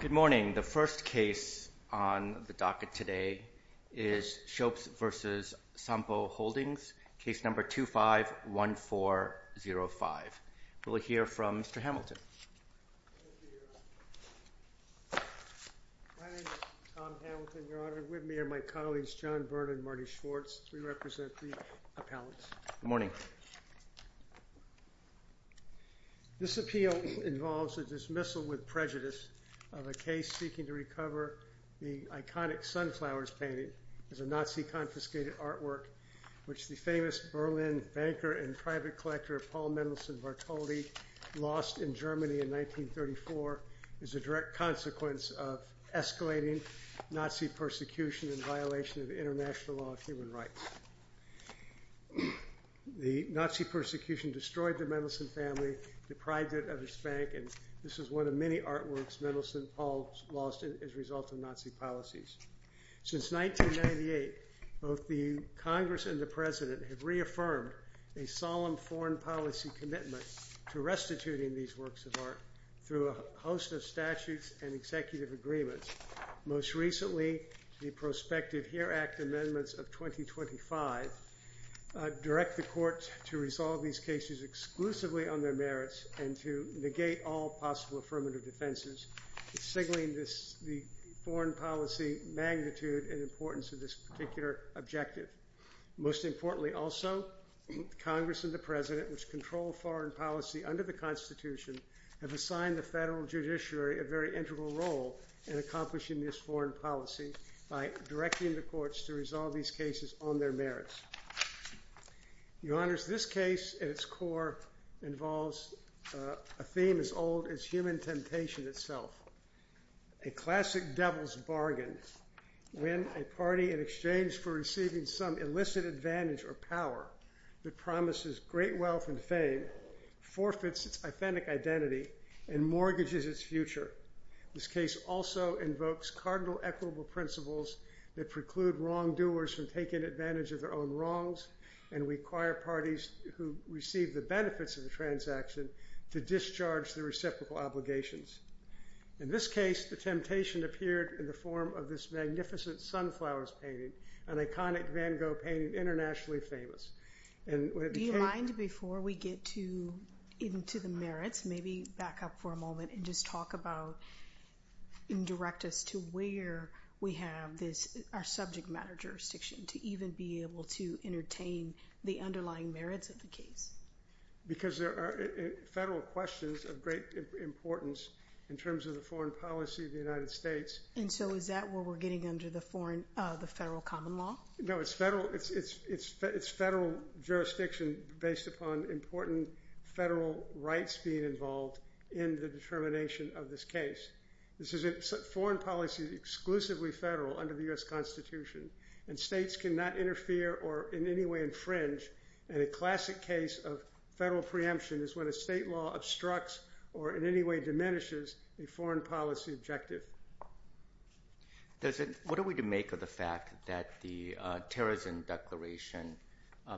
Good morning. The first case on the docket today is Schoeps v. Sompo Holdings, case number 251405. We'll hear from Mr. Hamilton. Thank you, Your Honor. My name is Tom Hamilton, Your Honor. With me are my colleagues John Byrne and Marty Schwartz. We represent the appellants. Good morning. This appeal involves a dismissal with prejudice of a case seeking to recover the iconic Sunflowers painting. It's a Nazi-confiscated artwork which the famous Berlin banker and private collector Paul Mendelssohn-Vartoli lost in Germany in 1934. It's a direct consequence of escalating Nazi persecution in violation of international law of human rights. The Nazi persecution destroyed the Mendelssohn family, deprived it of its bank, and this is one of many artworks Mendelssohn-Paul lost as a result of Nazi policies. Since 1998, both the Congress and the President have reaffirmed a solemn foreign policy commitment to restituting these works of art through a host of statutes and executive agreements. Most recently, the prospective HERE Act amendments of 2025 direct the court to resolve these cases exclusively on their merits and to negate all possible affirmative defenses, signaling the foreign policy magnitude and importance of this particular objective. Most importantly also, Congress and the President, which control foreign policy under the Constitution, have assigned the federal judiciary a very integral role in accomplishing this foreign policy by directing the courts to resolve these cases on their merits. Your Honors, this case at its core involves a theme as old as human temptation itself. A classic devil's bargain when a party in exchange for receiving some illicit advantage or power that promises great wealth and fame forfeits its authentic identity and mortgages its future. This case also invokes cardinal equitable principles that preclude wrongdoers from taking advantage of their own wrongs and require parties who receive the benefits of the transaction to discharge the reciprocal obligations. In this case, the temptation appeared in the form of this magnificent sunflowers painting, an iconic Van Gogh painting internationally famous. Do you mind before we get into the merits, maybe back up for a moment and just talk about and direct us to where we have our subject matter jurisdiction to even be able to entertain the underlying merits of the case? Because there are federal questions of great importance in terms of the foreign policy of the United States. And so is that where we're getting under the federal common law? No, it's federal jurisdiction based upon important federal rights being involved in the determination of this case. This is foreign policy exclusively federal under the U.S. Constitution, and states cannot interfere or in any way infringe. And a classic case of federal preemption is when a state law obstructs or in any way diminishes a foreign policy objective. What are we to make of the fact that the terrorism declaration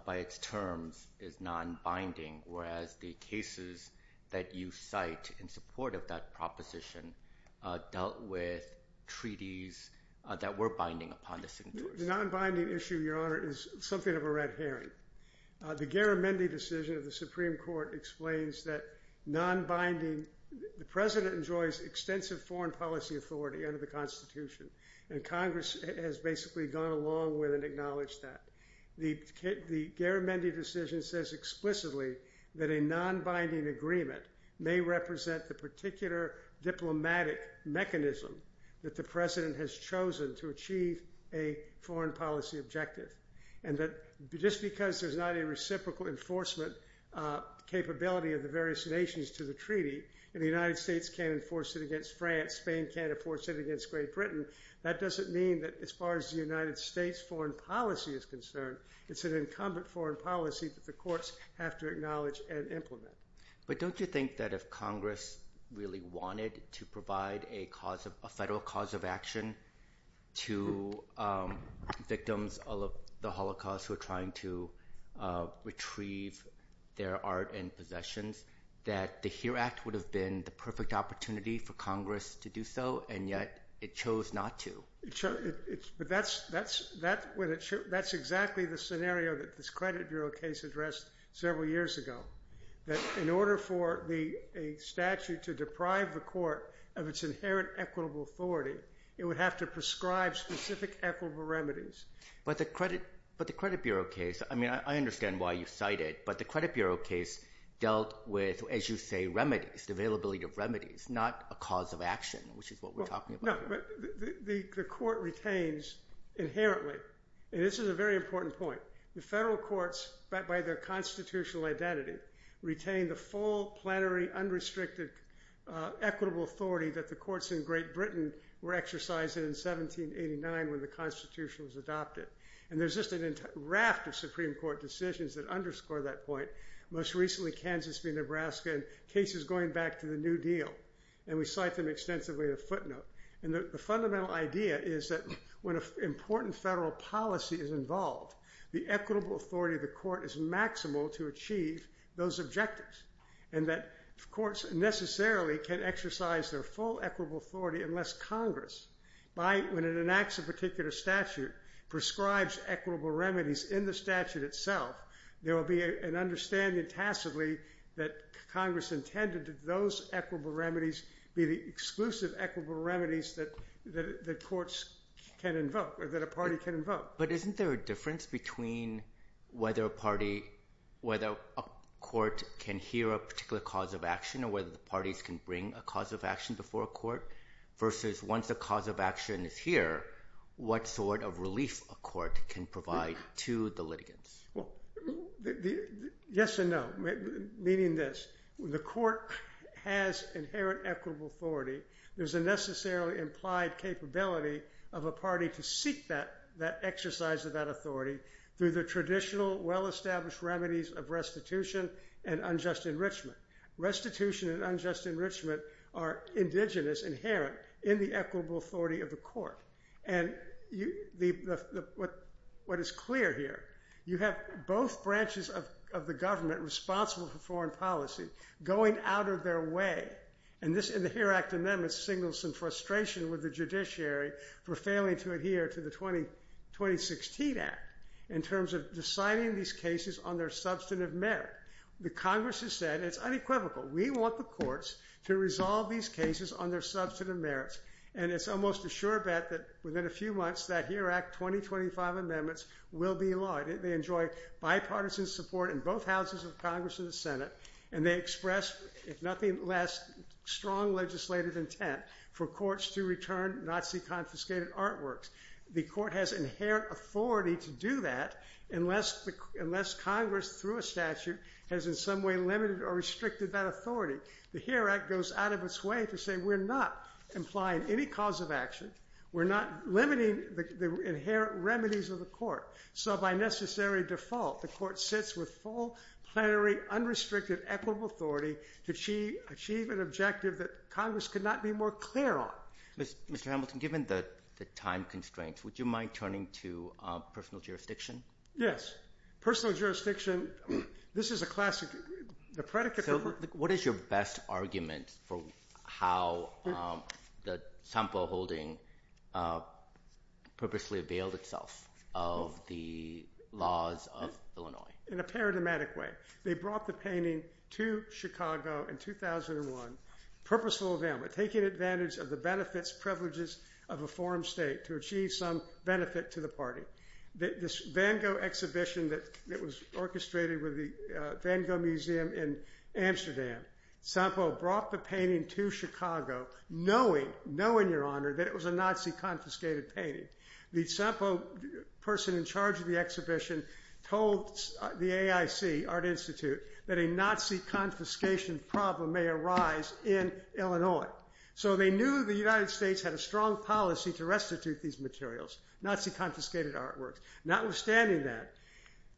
by its terms is non-binding, whereas the cases that you cite in support of that proposition dealt with treaties that were binding upon the signatures? The non-binding issue, Your Honor, is something of a red herring. The Garamendi decision of the Supreme Court explains that non-binding – the President enjoys extensive foreign policy authority under the Constitution, and Congress has basically gone along with and acknowledged that. The Garamendi decision says explicitly that a non-binding agreement may represent the particular diplomatic mechanism that the President has chosen to achieve a foreign policy objective. And that just because there's not a reciprocal enforcement capability of the various nations to the treaty – and the United States can't enforce it against France, Spain can't enforce it against Great Britain – that doesn't mean that as far as the United States' foreign policy is concerned, it's an incumbent foreign policy that the courts have to acknowledge and implement. But don't you think that if Congress really wanted to provide a federal cause of action to victims of the Holocaust who are trying to retrieve their art and possessions, that the HERE Act would have been the perfect opportunity for Congress to do so, and yet it chose not to? But that's exactly the scenario that this Credit Bureau case addressed several years ago, that in order for a statute to deprive the court of its inherent equitable authority, it would have to prescribe specific equitable remedies. But the Credit Bureau case – I mean, I understand why you cite it – but the Credit Bureau case dealt with, as you say, remedies, the availability of remedies, not a cause of action, which is what we're talking about. No, but the court retains inherently – and this is a very important point – the federal courts, by their constitutional identity, retain the full, plenary, unrestricted equitable authority that the courts in Great Britain were exercising in 1789 when the Constitution was adopted. And there's just a raft of Supreme Court decisions that underscore that point, most recently Kansas v. Nebraska and cases going back to the New Deal, and we cite them extensively in a footnote. And the fundamental idea is that when an important federal policy is involved, the equitable authority of the court is maximal to achieve those objectives, and that courts necessarily can exercise their full equitable authority unless Congress, when it enacts a particular statute, prescribes equitable remedies in the statute itself. There will be an understanding tacitly that Congress intended that those equitable remedies be the exclusive equitable remedies that courts can invoke or that a party can invoke. But isn't there a difference between whether a court can hear a particular cause of action or whether the parties can bring a cause of action before a court versus once a cause of action is here, what sort of relief a court can provide to the litigants? Well, yes and no, meaning this. The court has inherent equitable authority. There's a necessarily implied capability of a party to seek that exercise of that authority through the traditional, well-established remedies of restitution and unjust enrichment. Restitution and unjust enrichment are indigenous, inherent in the equitable authority of the court. And what is clear here, you have both branches of the government responsible for foreign policy going out of their way. And the HERE Act in them signals some frustration with the judiciary for failing to adhere to the 2016 Act in terms of deciding these cases on their substantive merit. The Congress has said it's unequivocal. We want the courts to resolve these cases on their substantive merits. And it's almost a sure bet that within a few months that HERE Act 2025 amendments will be in law. They enjoy bipartisan support in both houses of Congress and the Senate. And they express, if nothing less, strong legislative intent for courts to return Nazi-confiscated artworks. The court has inherent authority to do that unless Congress, through a statute, has in some way limited or restricted that authority. The HERE Act goes out of its way to say we're not implying any cause of action. We're not limiting the inherent remedies of the court. So by necessary default, the court sits with full, plenary, unrestricted, equitable authority to achieve an objective that Congress could not be more clear on. Mr. Hamilton, given the time constraints, would you mind turning to personal jurisdiction? Yes. Personal jurisdiction. This is a classic. What is your best argument for how the Sample Holding purposely availed itself of the laws of Illinois? In a paradigmatic way. They brought the painting to Chicago in 2001. Purposeful availment. Taking advantage of the benefits, privileges of a forum state to achieve some benefit to the party. This Van Gogh exhibition that was orchestrated with the Van Gogh Museum in Amsterdam. Sample brought the painting to Chicago knowing, knowing, Your Honor, that it was a Nazi-confiscated painting. The sample person in charge of the exhibition told the AIC, Art Institute, that a Nazi-confiscation problem may arise in Illinois. So they knew the United States had a strong policy to restitute these materials. Nazi-confiscated artwork. Notwithstanding that,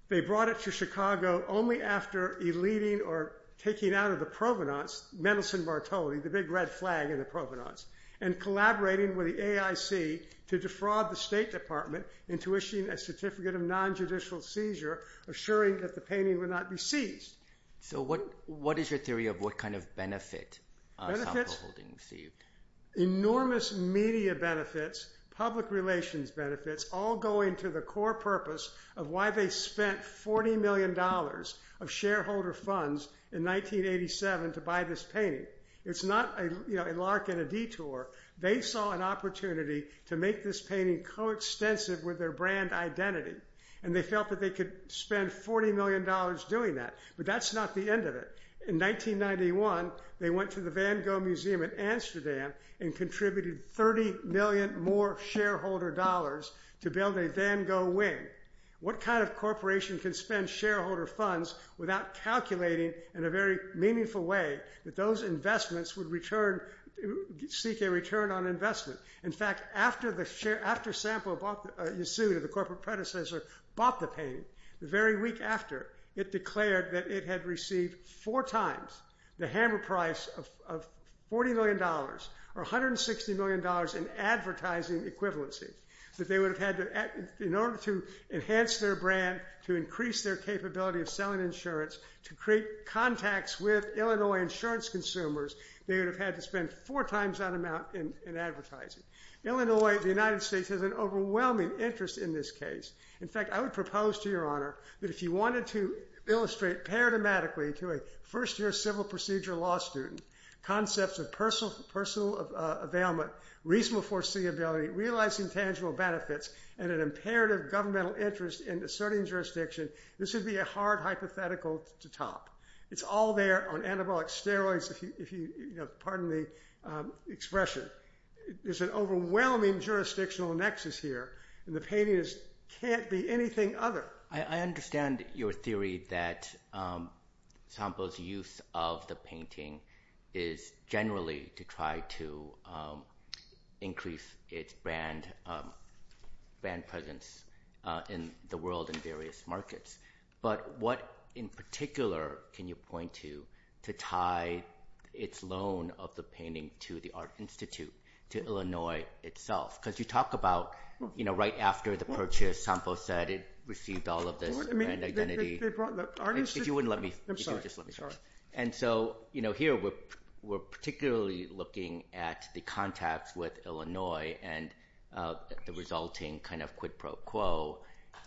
they brought it to Chicago only after eluding or taking out of the provenance Mendelssohn Martoli, the big red flag in the provenance, and collaborating with the AIC to defraud the State Department into issuing a certificate of non-judicial seizure, assuring that the painting would not be seized. So what is your theory of what kind of benefit Sample Holding received? Enormous media benefits, public relations benefits, all going to the core purpose of why they spent $40 million of shareholder funds in 1987 to buy this painting. It's not, you know, a lark and a detour. They saw an opportunity to make this painting coextensive with their brand identity. And they felt that they could spend $40 million doing that. But that's not the end of it. In 1991, they went to the Van Gogh Museum in Amsterdam and contributed $30 million more shareholder dollars to build a Van Gogh wing. What kind of corporation can spend shareholder funds without calculating in a very meaningful way that those investments would return, seek a return on investment? In fact, after Sample bought, Yasuda, the corporate predecessor, bought the painting, the very week after, it declared that it had received four times the hammer price of $40 million or $160 million in advertising equivalency. That they would have had to, in order to enhance their brand, to increase their capability of selling insurance, to create contacts with Illinois insurance consumers, they would have had to spend four times that amount in advertising. Illinois, the United States, has an overwhelming interest in this case. In fact, I would propose to your honor that if you wanted to illustrate paradigmatically to a first year civil procedure law student concepts of personal availment, reasonable foreseeability, realizing tangible benefits, and an imperative governmental interest in asserting jurisdiction, this would be a hard hypothetical to top. It's all there on anabolic steroids, if you, pardon the expression. There's an overwhelming jurisdictional nexus here, and the painting can't be anything other. I understand your theory that Sample's use of the painting is generally to try to increase its brand presence in the world in various markets. But what in particular can you point to to tie its loan of the painting to the Art Institute, to Illinois itself? Because you talk about right after the purchase, Sample said it received all of this brand identity. If you wouldn't let me. I'm sorry. And so here we're particularly looking at the contacts with Illinois and the resulting kind of quid pro quo.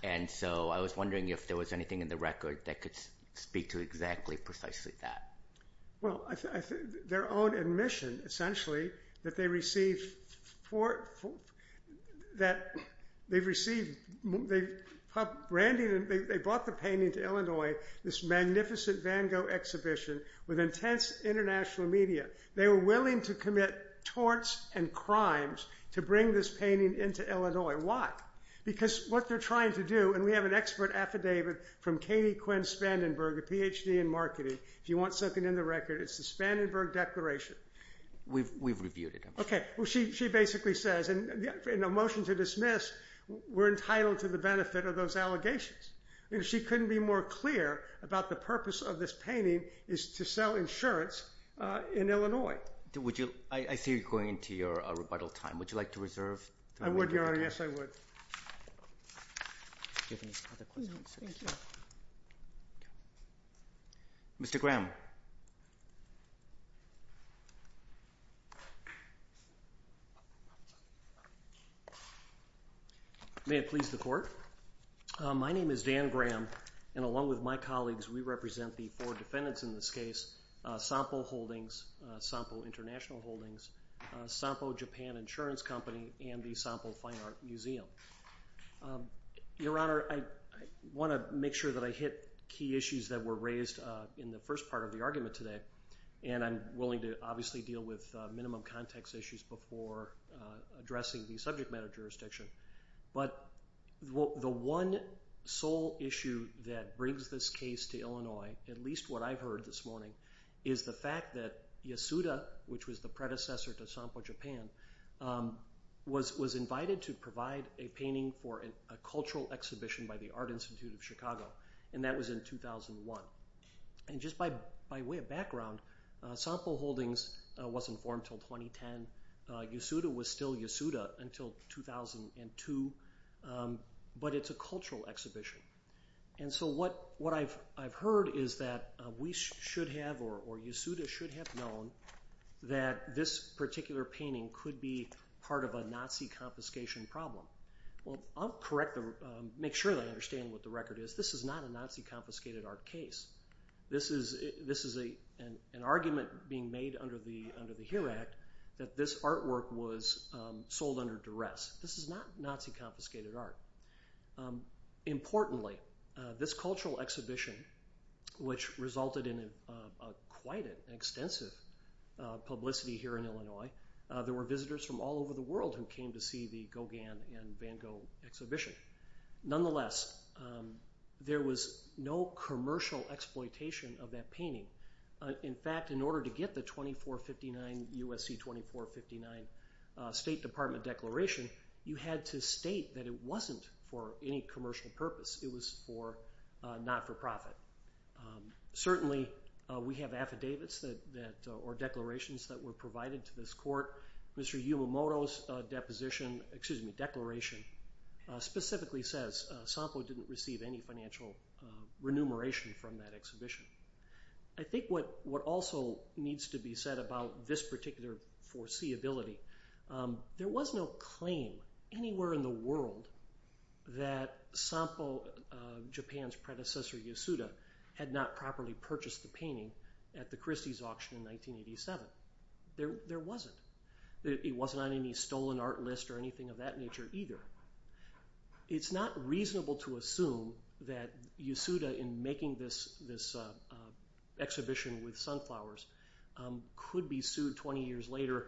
And so I was wondering if there was anything in the record that could speak to exactly, precisely that. Well, their own admission, essentially, that they received, that they received, they brought the painting to Illinois, this magnificent Van Gogh exhibition with intense international media. They were willing to commit torts and crimes to bring this painting into Illinois. Why? Because what they're trying to do, and we have an expert affidavit from Katie Quinn Spandenberg, a PhD in marketing. If you want something in the record, it's the Spandenberg Declaration. We've reviewed it. Okay. Well, she basically says, in a motion to dismiss, we're entitled to the benefit of those allegations. She couldn't be more clear about the purpose of this painting is to sell insurance in Illinois. I see you're going into your rebuttal time. Would you like to reserve? I would, Your Honor. Yes, I would. Do you have any other questions? No, thank you. Mr. Graham. May it please the Court. My name is Dan Graham, and along with my colleagues, we represent the four defendants in this case, Sampo Holdings, Sampo International Holdings, Sampo Japan Insurance Company, and the Sampo Fine Art Museum. Your Honor, I want to make sure that I hit key issues that were raised in the first part of the argument today, and I'm willing to obviously deal with minimum context issues before addressing the subject matter jurisdiction. But the one sole issue that brings this case to Illinois, at least what I've heard this morning, is the fact that Yasuda, which was the predecessor to Sampo Japan, was invited to provide a painting for a cultural exhibition by the Art Institute of Chicago, and that was in 2001. And just by way of background, Sampo Holdings wasn't formed until 2010. Yasuda was still Yasuda until 2002, but it's a cultural exhibition. And so what I've heard is that we should have, or Yasuda should have known, that this particular painting could be part of a Nazi confiscation problem. Well, I'll make sure that I understand what the record is. This is not a Nazi confiscated art case. This is an argument being made under the HERE Act that this artwork was sold under duress. This is not Nazi confiscated art. Importantly, this cultural exhibition, which resulted in quite an extensive publicity here in Illinois, there were visitors from all over the world who came to see the Gauguin and Van Gogh exhibition. Nonetheless, there was no commercial exploitation of that painting. In fact, in order to get the 2459, USC 2459 State Department declaration, you had to state that it wasn't for any commercial purpose. It was for not-for-profit. Certainly, we have affidavits or declarations that were provided to this court. Mr. Yamamoto's deposition, excuse me, declaration, specifically says Sampo didn't receive any financial remuneration from that exhibition. I think what also needs to be said about this particular foreseeability, there was no claim anywhere in the world that Sampo, Japan's predecessor, Yasuda, had not properly purchased the painting at the Christie's auction in 1987. There wasn't. It wasn't on any stolen art list or anything of that nature either. It's not reasonable to assume that Yasuda, in making this exhibition with sunflowers, could be sued 20 years later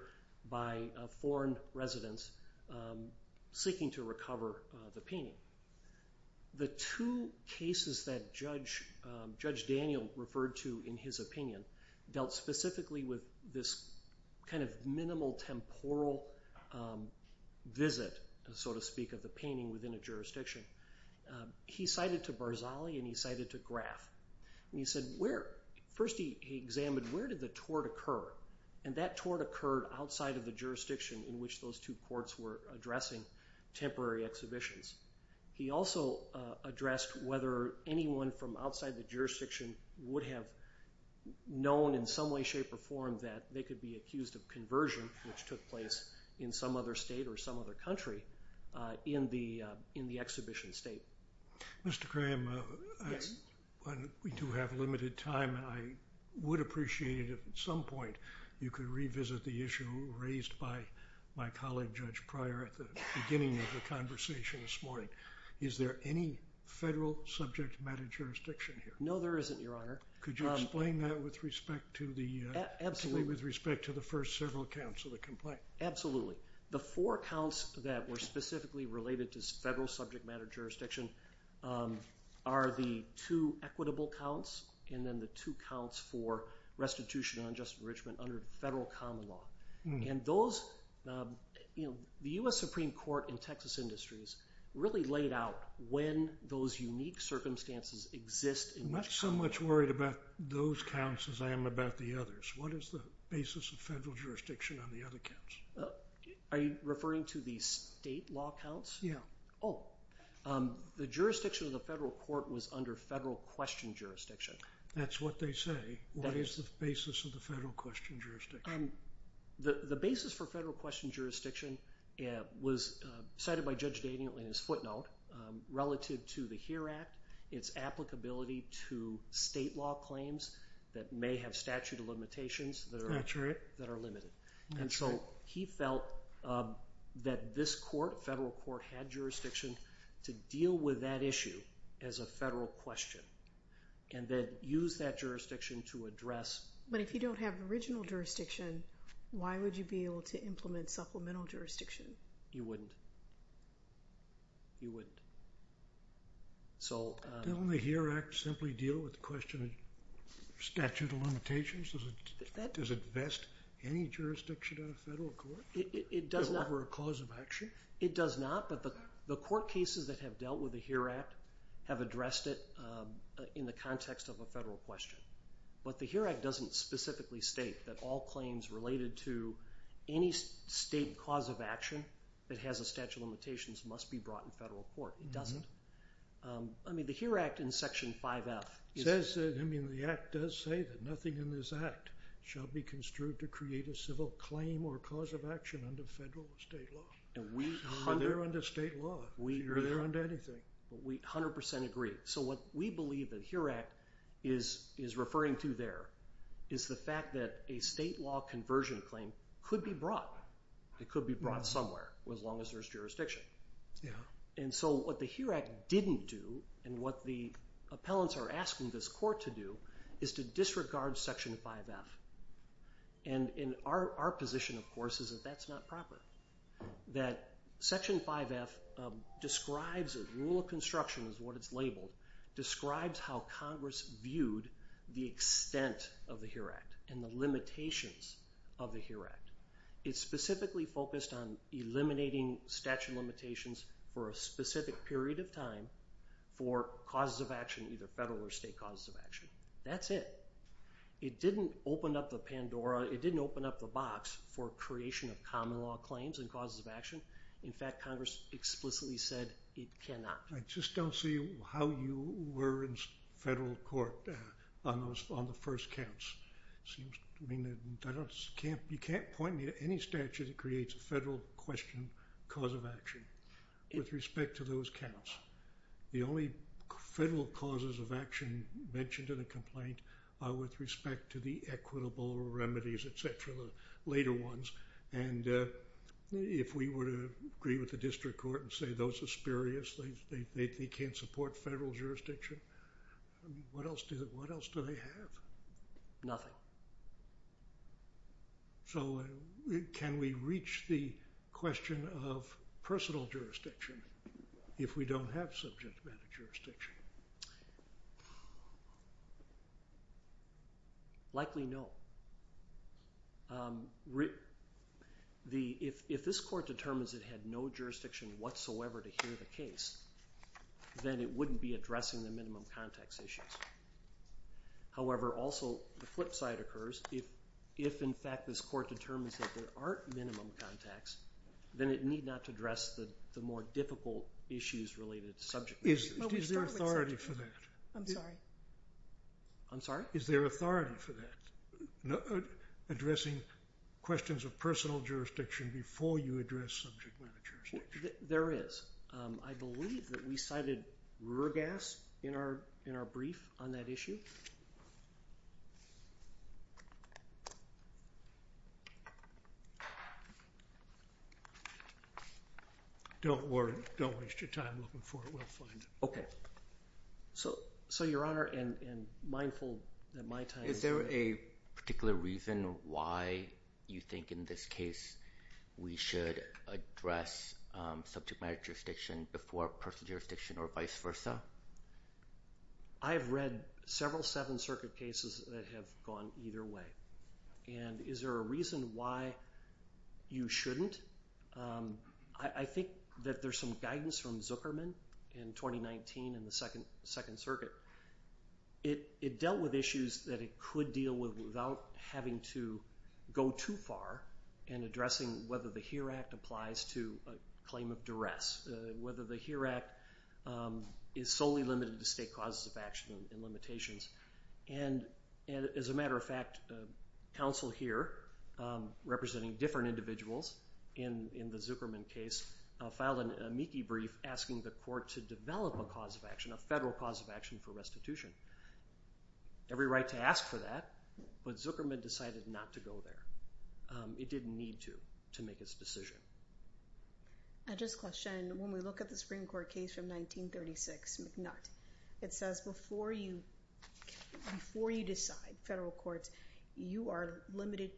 by foreign residents seeking to recover the painting. The two cases that Judge Daniel referred to in his opinion dealt specifically with this kind of minimal temporal visit, so to speak, of the painting within a jurisdiction. He cited to Barzali and he cited to Graff. He said, first he examined where did the tort occur? That tort occurred outside of the jurisdiction in which those two courts were addressing temporary exhibitions. He also addressed whether anyone from outside the jurisdiction would have known in some way, shape, or form that they could be accused of conversion, which took place in some other state or some other country, in the exhibition state. Mr. Graham, we do have limited time. I would appreciate it if at some point you could revisit the issue raised by my colleague Judge Pryor at the beginning of the conversation this morning. Is there any federal subject matter jurisdiction here? No, there isn't, Your Honor. Could you explain that with respect to the first several counts of the complaint? Absolutely. The four counts that were specifically related to federal subject matter jurisdiction are the two equitable counts and then the two counts for restitution and unjust enrichment under federal common law. The U.S. Supreme Court in Texas Industries really laid out when those unique circumstances exist. I'm not so much worried about those counts as I am about the others. What is the basis of federal jurisdiction on the other counts? Are you referring to the state law counts? Yeah. Oh, the jurisdiction of the federal court was under federal question jurisdiction. That's what they say. What is the basis of the federal question jurisdiction? The basis for federal question jurisdiction was cited by Judge Daniel in his footnote. Relative to the HERE Act, it's applicability to state law claims that may have statute of limitations that are limited. And so he felt that this court, federal court, had jurisdiction to deal with that issue as a federal question and then use that jurisdiction to address. But if you don't have original jurisdiction, why would you be able to implement supplemental jurisdiction? You wouldn't. You wouldn't. Didn't the HERE Act simply deal with the question of statute of limitations? Does it vest any jurisdiction in a federal court? It does not. Is it ever a cause of action? It does not, but the court cases that have dealt with the HERE Act have addressed it in the context of a federal question. But the HERE Act doesn't specifically state that all claims related to any state cause of action that has a statute of limitations must be brought in federal court. It doesn't. I mean, the HERE Act in Section 5F... It says that, I mean, the Act does say that nothing in this Act shall be construed to create a civil claim or cause of action under federal or state law. It's not under state law. You're under anything. We 100% agree. So what we believe that HERE Act is referring to there is the fact that a state law conversion claim could be brought. It could be brought somewhere as long as there's jurisdiction. And so what the HERE Act didn't do and what the appellants are asking this court to do is to disregard Section 5F. And our position, of course, is that that's not proper. That Section 5F describes as rule of construction is what it's labeled, describes how Congress viewed the extent of the HERE Act and the limitations of the HERE Act. It's specifically focused on eliminating statute of limitations for a specific period of time for causes of action, either federal or state causes of action. That's it. It didn't open up the Pandora. It didn't open up the box for creation of common law claims and causes of action. In fact, Congress explicitly said it cannot. I just don't see how you were in federal court on the first counts. You can't point me to any statute that creates a federal question cause of action with respect to those counts. The only federal causes of action mentioned in a complaint are with respect to the equitable remedies, et cetera, later ones. And if we were to agree with the district court and say those are spurious, they can't support federal jurisdiction, what else do they have? Nothing. So can we reach the question of personal jurisdiction if we don't have subject matter jurisdiction? Likely no. If this court determines it had no jurisdiction whatsoever to hear the case, then it wouldn't be addressing the minimum context issues. However, also the flip side occurs, if in fact this court determines that there aren't minimum contacts, then it need not address the more difficult issues related to subject matter jurisdiction. Is there authority for that? I'm sorry? I'm sorry? Is there authority for that? Addressing questions of personal jurisdiction before you address subject matter jurisdiction? There is. I believe that we cited Ruergas in our brief on that issue. Don't worry. Don't waste your time looking for it. We'll find it. So, Your Honor, and mindful that my time is running out. Is there a particular reason why you think in this case we should address subject matter jurisdiction before personal jurisdiction or vice versa? I've read several Seventh Circuit cases that have gone either way. And is there a reason why you shouldn't? I think that there's some guidance from Zuckerman in 2019 in the Second Circuit. It dealt with issues that it could deal with without having to go too far in addressing whether the HERE Act applies to a claim of duress, whether the HERE Act is solely limited to state causes of action and limitations. And, as a matter of fact, counsel here, representing different individuals in the Zuckerman case, filed an amici brief asking the court to develop a cause of action, a federal cause of action for restitution. Every right to ask for that, but Zuckerman decided not to go there. It didn't need to, to make its decision. I just question, when we look at the Supreme Court case from 1936, McNutt, it says before you decide, federal courts, you are a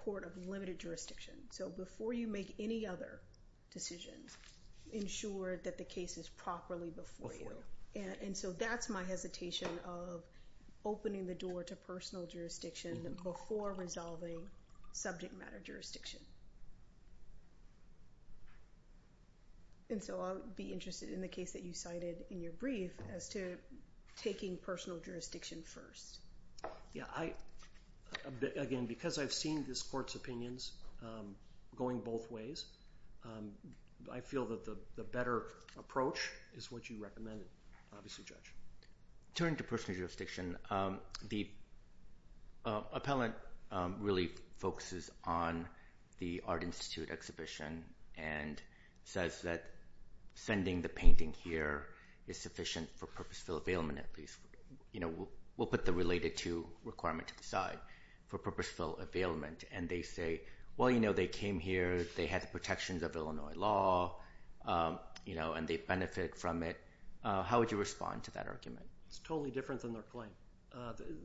court of limited jurisdiction. So before you make any other decision, ensure that the case is properly before you. And so that's my hesitation of opening the door to personal jurisdiction before resolving subject matter jurisdiction. And so I'll be interested in the case that you cited in your brief as to taking personal jurisdiction first. Again, because I've seen this court's opinions going both ways, I feel that the better approach is what you recommend, obviously, Judge. Turning to personal jurisdiction, the appellant really focuses on the Art Institute exhibition and says that sending the painting here is sufficient for purposeful availment, at least. We'll put the related to requirement to the side, for purposeful availment. And they say, well, you know, they came here, they had the protections of Illinois law, and they benefit from it. How would you respond to that argument? It's totally different than their claim.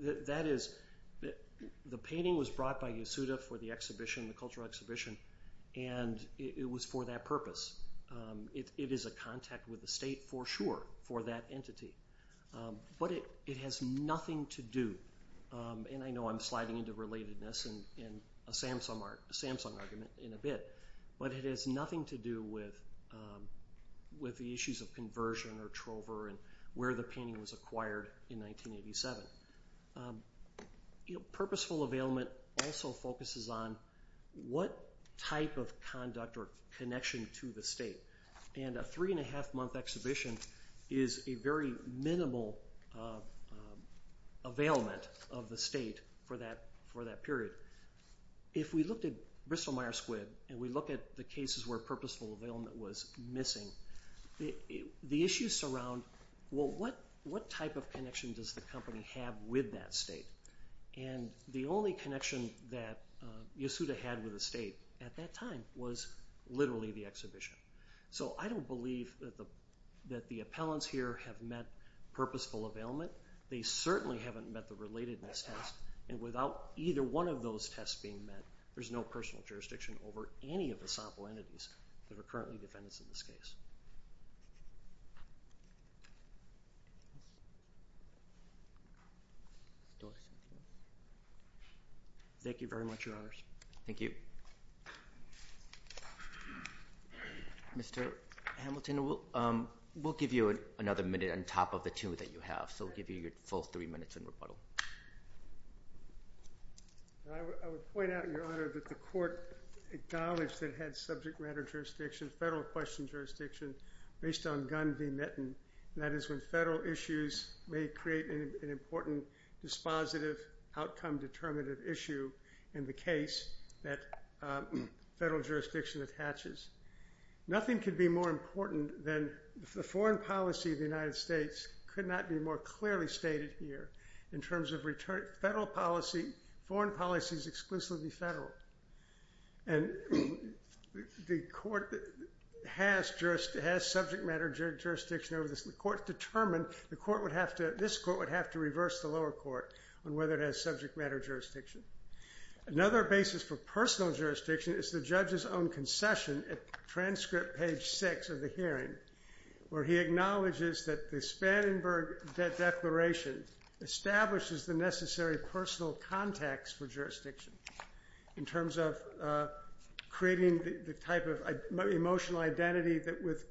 That is, the painting was brought by Yasuda for the cultural exhibition, and it was for that purpose. It is a contact with the state, for sure, for that entity. But it has nothing to do, and I know I'm sliding into relatedness and a Samsung argument in a bit, but it has nothing to do with the issues of conversion or trover and where the painting was acquired in 1987. Purposeful availment also focuses on what type of conduct or connection to the state. And a three-and-a-half-month exhibition is a very minimal availment of the state for that period. If we looked at Bristol-Myers Squibb, and we look at the cases where purposeful availment was missing, the issues surround, well, what type of connection does the company have with that state? And the only connection that Yasuda had with the state at that time was literally the exhibition. So I don't believe that the appellants here have met purposeful availment. They certainly haven't met the relatedness test, and without either one of those tests being met, there's no personal jurisdiction over any of the sample entities that are currently defendants in this case. Thank you very much, Your Honors. Thank you. Mr. Hamilton, we'll give you another minute on top of the two that you have, so we'll give you your full three minutes in rebuttal. I would point out, Your Honor, that the court acknowledged that it had subject matter jurisdiction, federal question jurisdiction, based on Gunn v. Mitten, and that is when federal issues may create an important dispositive outcome-determinative issue in the case that federal jurisdiction attaches. Nothing could be more important than the foreign policy of the United States could not be more clearly stated here in terms of federal policy. Foreign policy is exclusively federal, and the court has subject matter jurisdiction over this. The court determined this court would have to reverse the lower court on whether it has subject matter jurisdiction. Another basis for personal jurisdiction is the judge's own concession at transcript page 6 of the hearing, where he acknowledges that the Spanningberg Declaration establishes the necessary personal context for jurisdiction in terms of creating the type of emotional identity with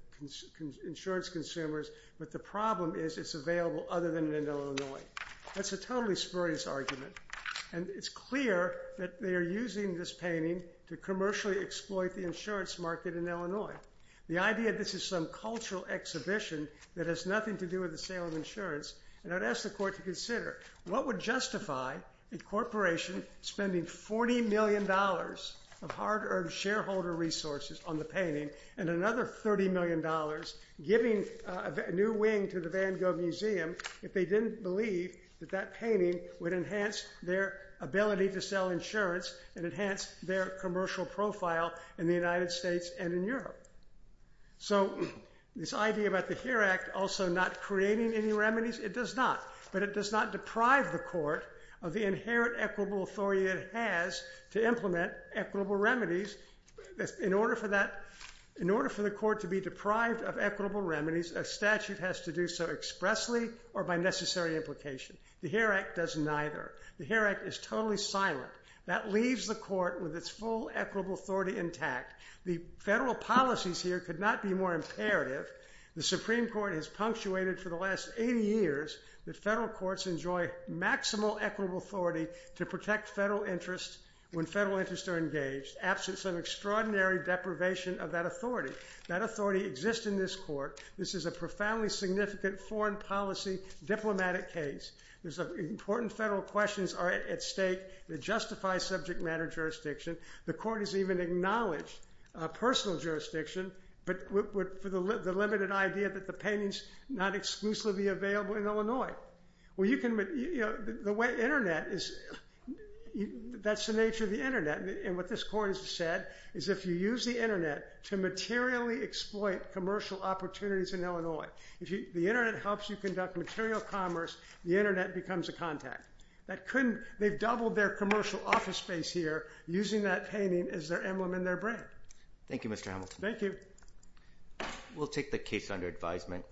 insurance consumers, but the problem is it's available other than in Illinois. That's a totally spurious argument, and it's clear that they are using this painting to commercially exploit the insurance market in Illinois. The idea that this is some cultural exhibition that has nothing to do with the sale of insurance, and I'd ask the court to consider what would justify a corporation spending $40 million of hard-earned shareholder resources on the painting and another $30 million giving a new wing to the Van Gogh Museum if they didn't believe that that painting would enhance their ability to sell insurance and enhance their commercial profile in the United States and in Europe. So this idea about the HERE Act also not creating any remedies? It does not, but it does not deprive the court of the inherent equitable authority it has to implement equitable remedies. In order for the court to be deprived of equitable remedies, a statute has to do so expressly or by necessary implication. The HERE Act does neither. The HERE Act is totally silent. That leaves the court with its full equitable authority intact. The federal policies here could not be more imperative. The Supreme Court has punctuated for the last 80 years that federal courts enjoy maximal equitable authority to protect federal interests when federal interests are engaged, absent some extraordinary deprivation of that authority. That authority exists in this court. This is a profoundly significant foreign policy diplomatic case. Important federal questions are at stake that justify subject matter jurisdiction. The court has even acknowledged personal jurisdiction for the limited idea that the paintings not exclusively be available in Illinois. The way Internet is, that's the nature of the Internet. And what this court has said is if you use the Internet to materially exploit commercial opportunities in Illinois, if the Internet helps you conduct material commerce, the Internet becomes a contact. They've doubled their commercial office space here using that painting as their emblem and their brand. Thank you, Mr. Hamilton. Thank you. We'll take the case under advisement.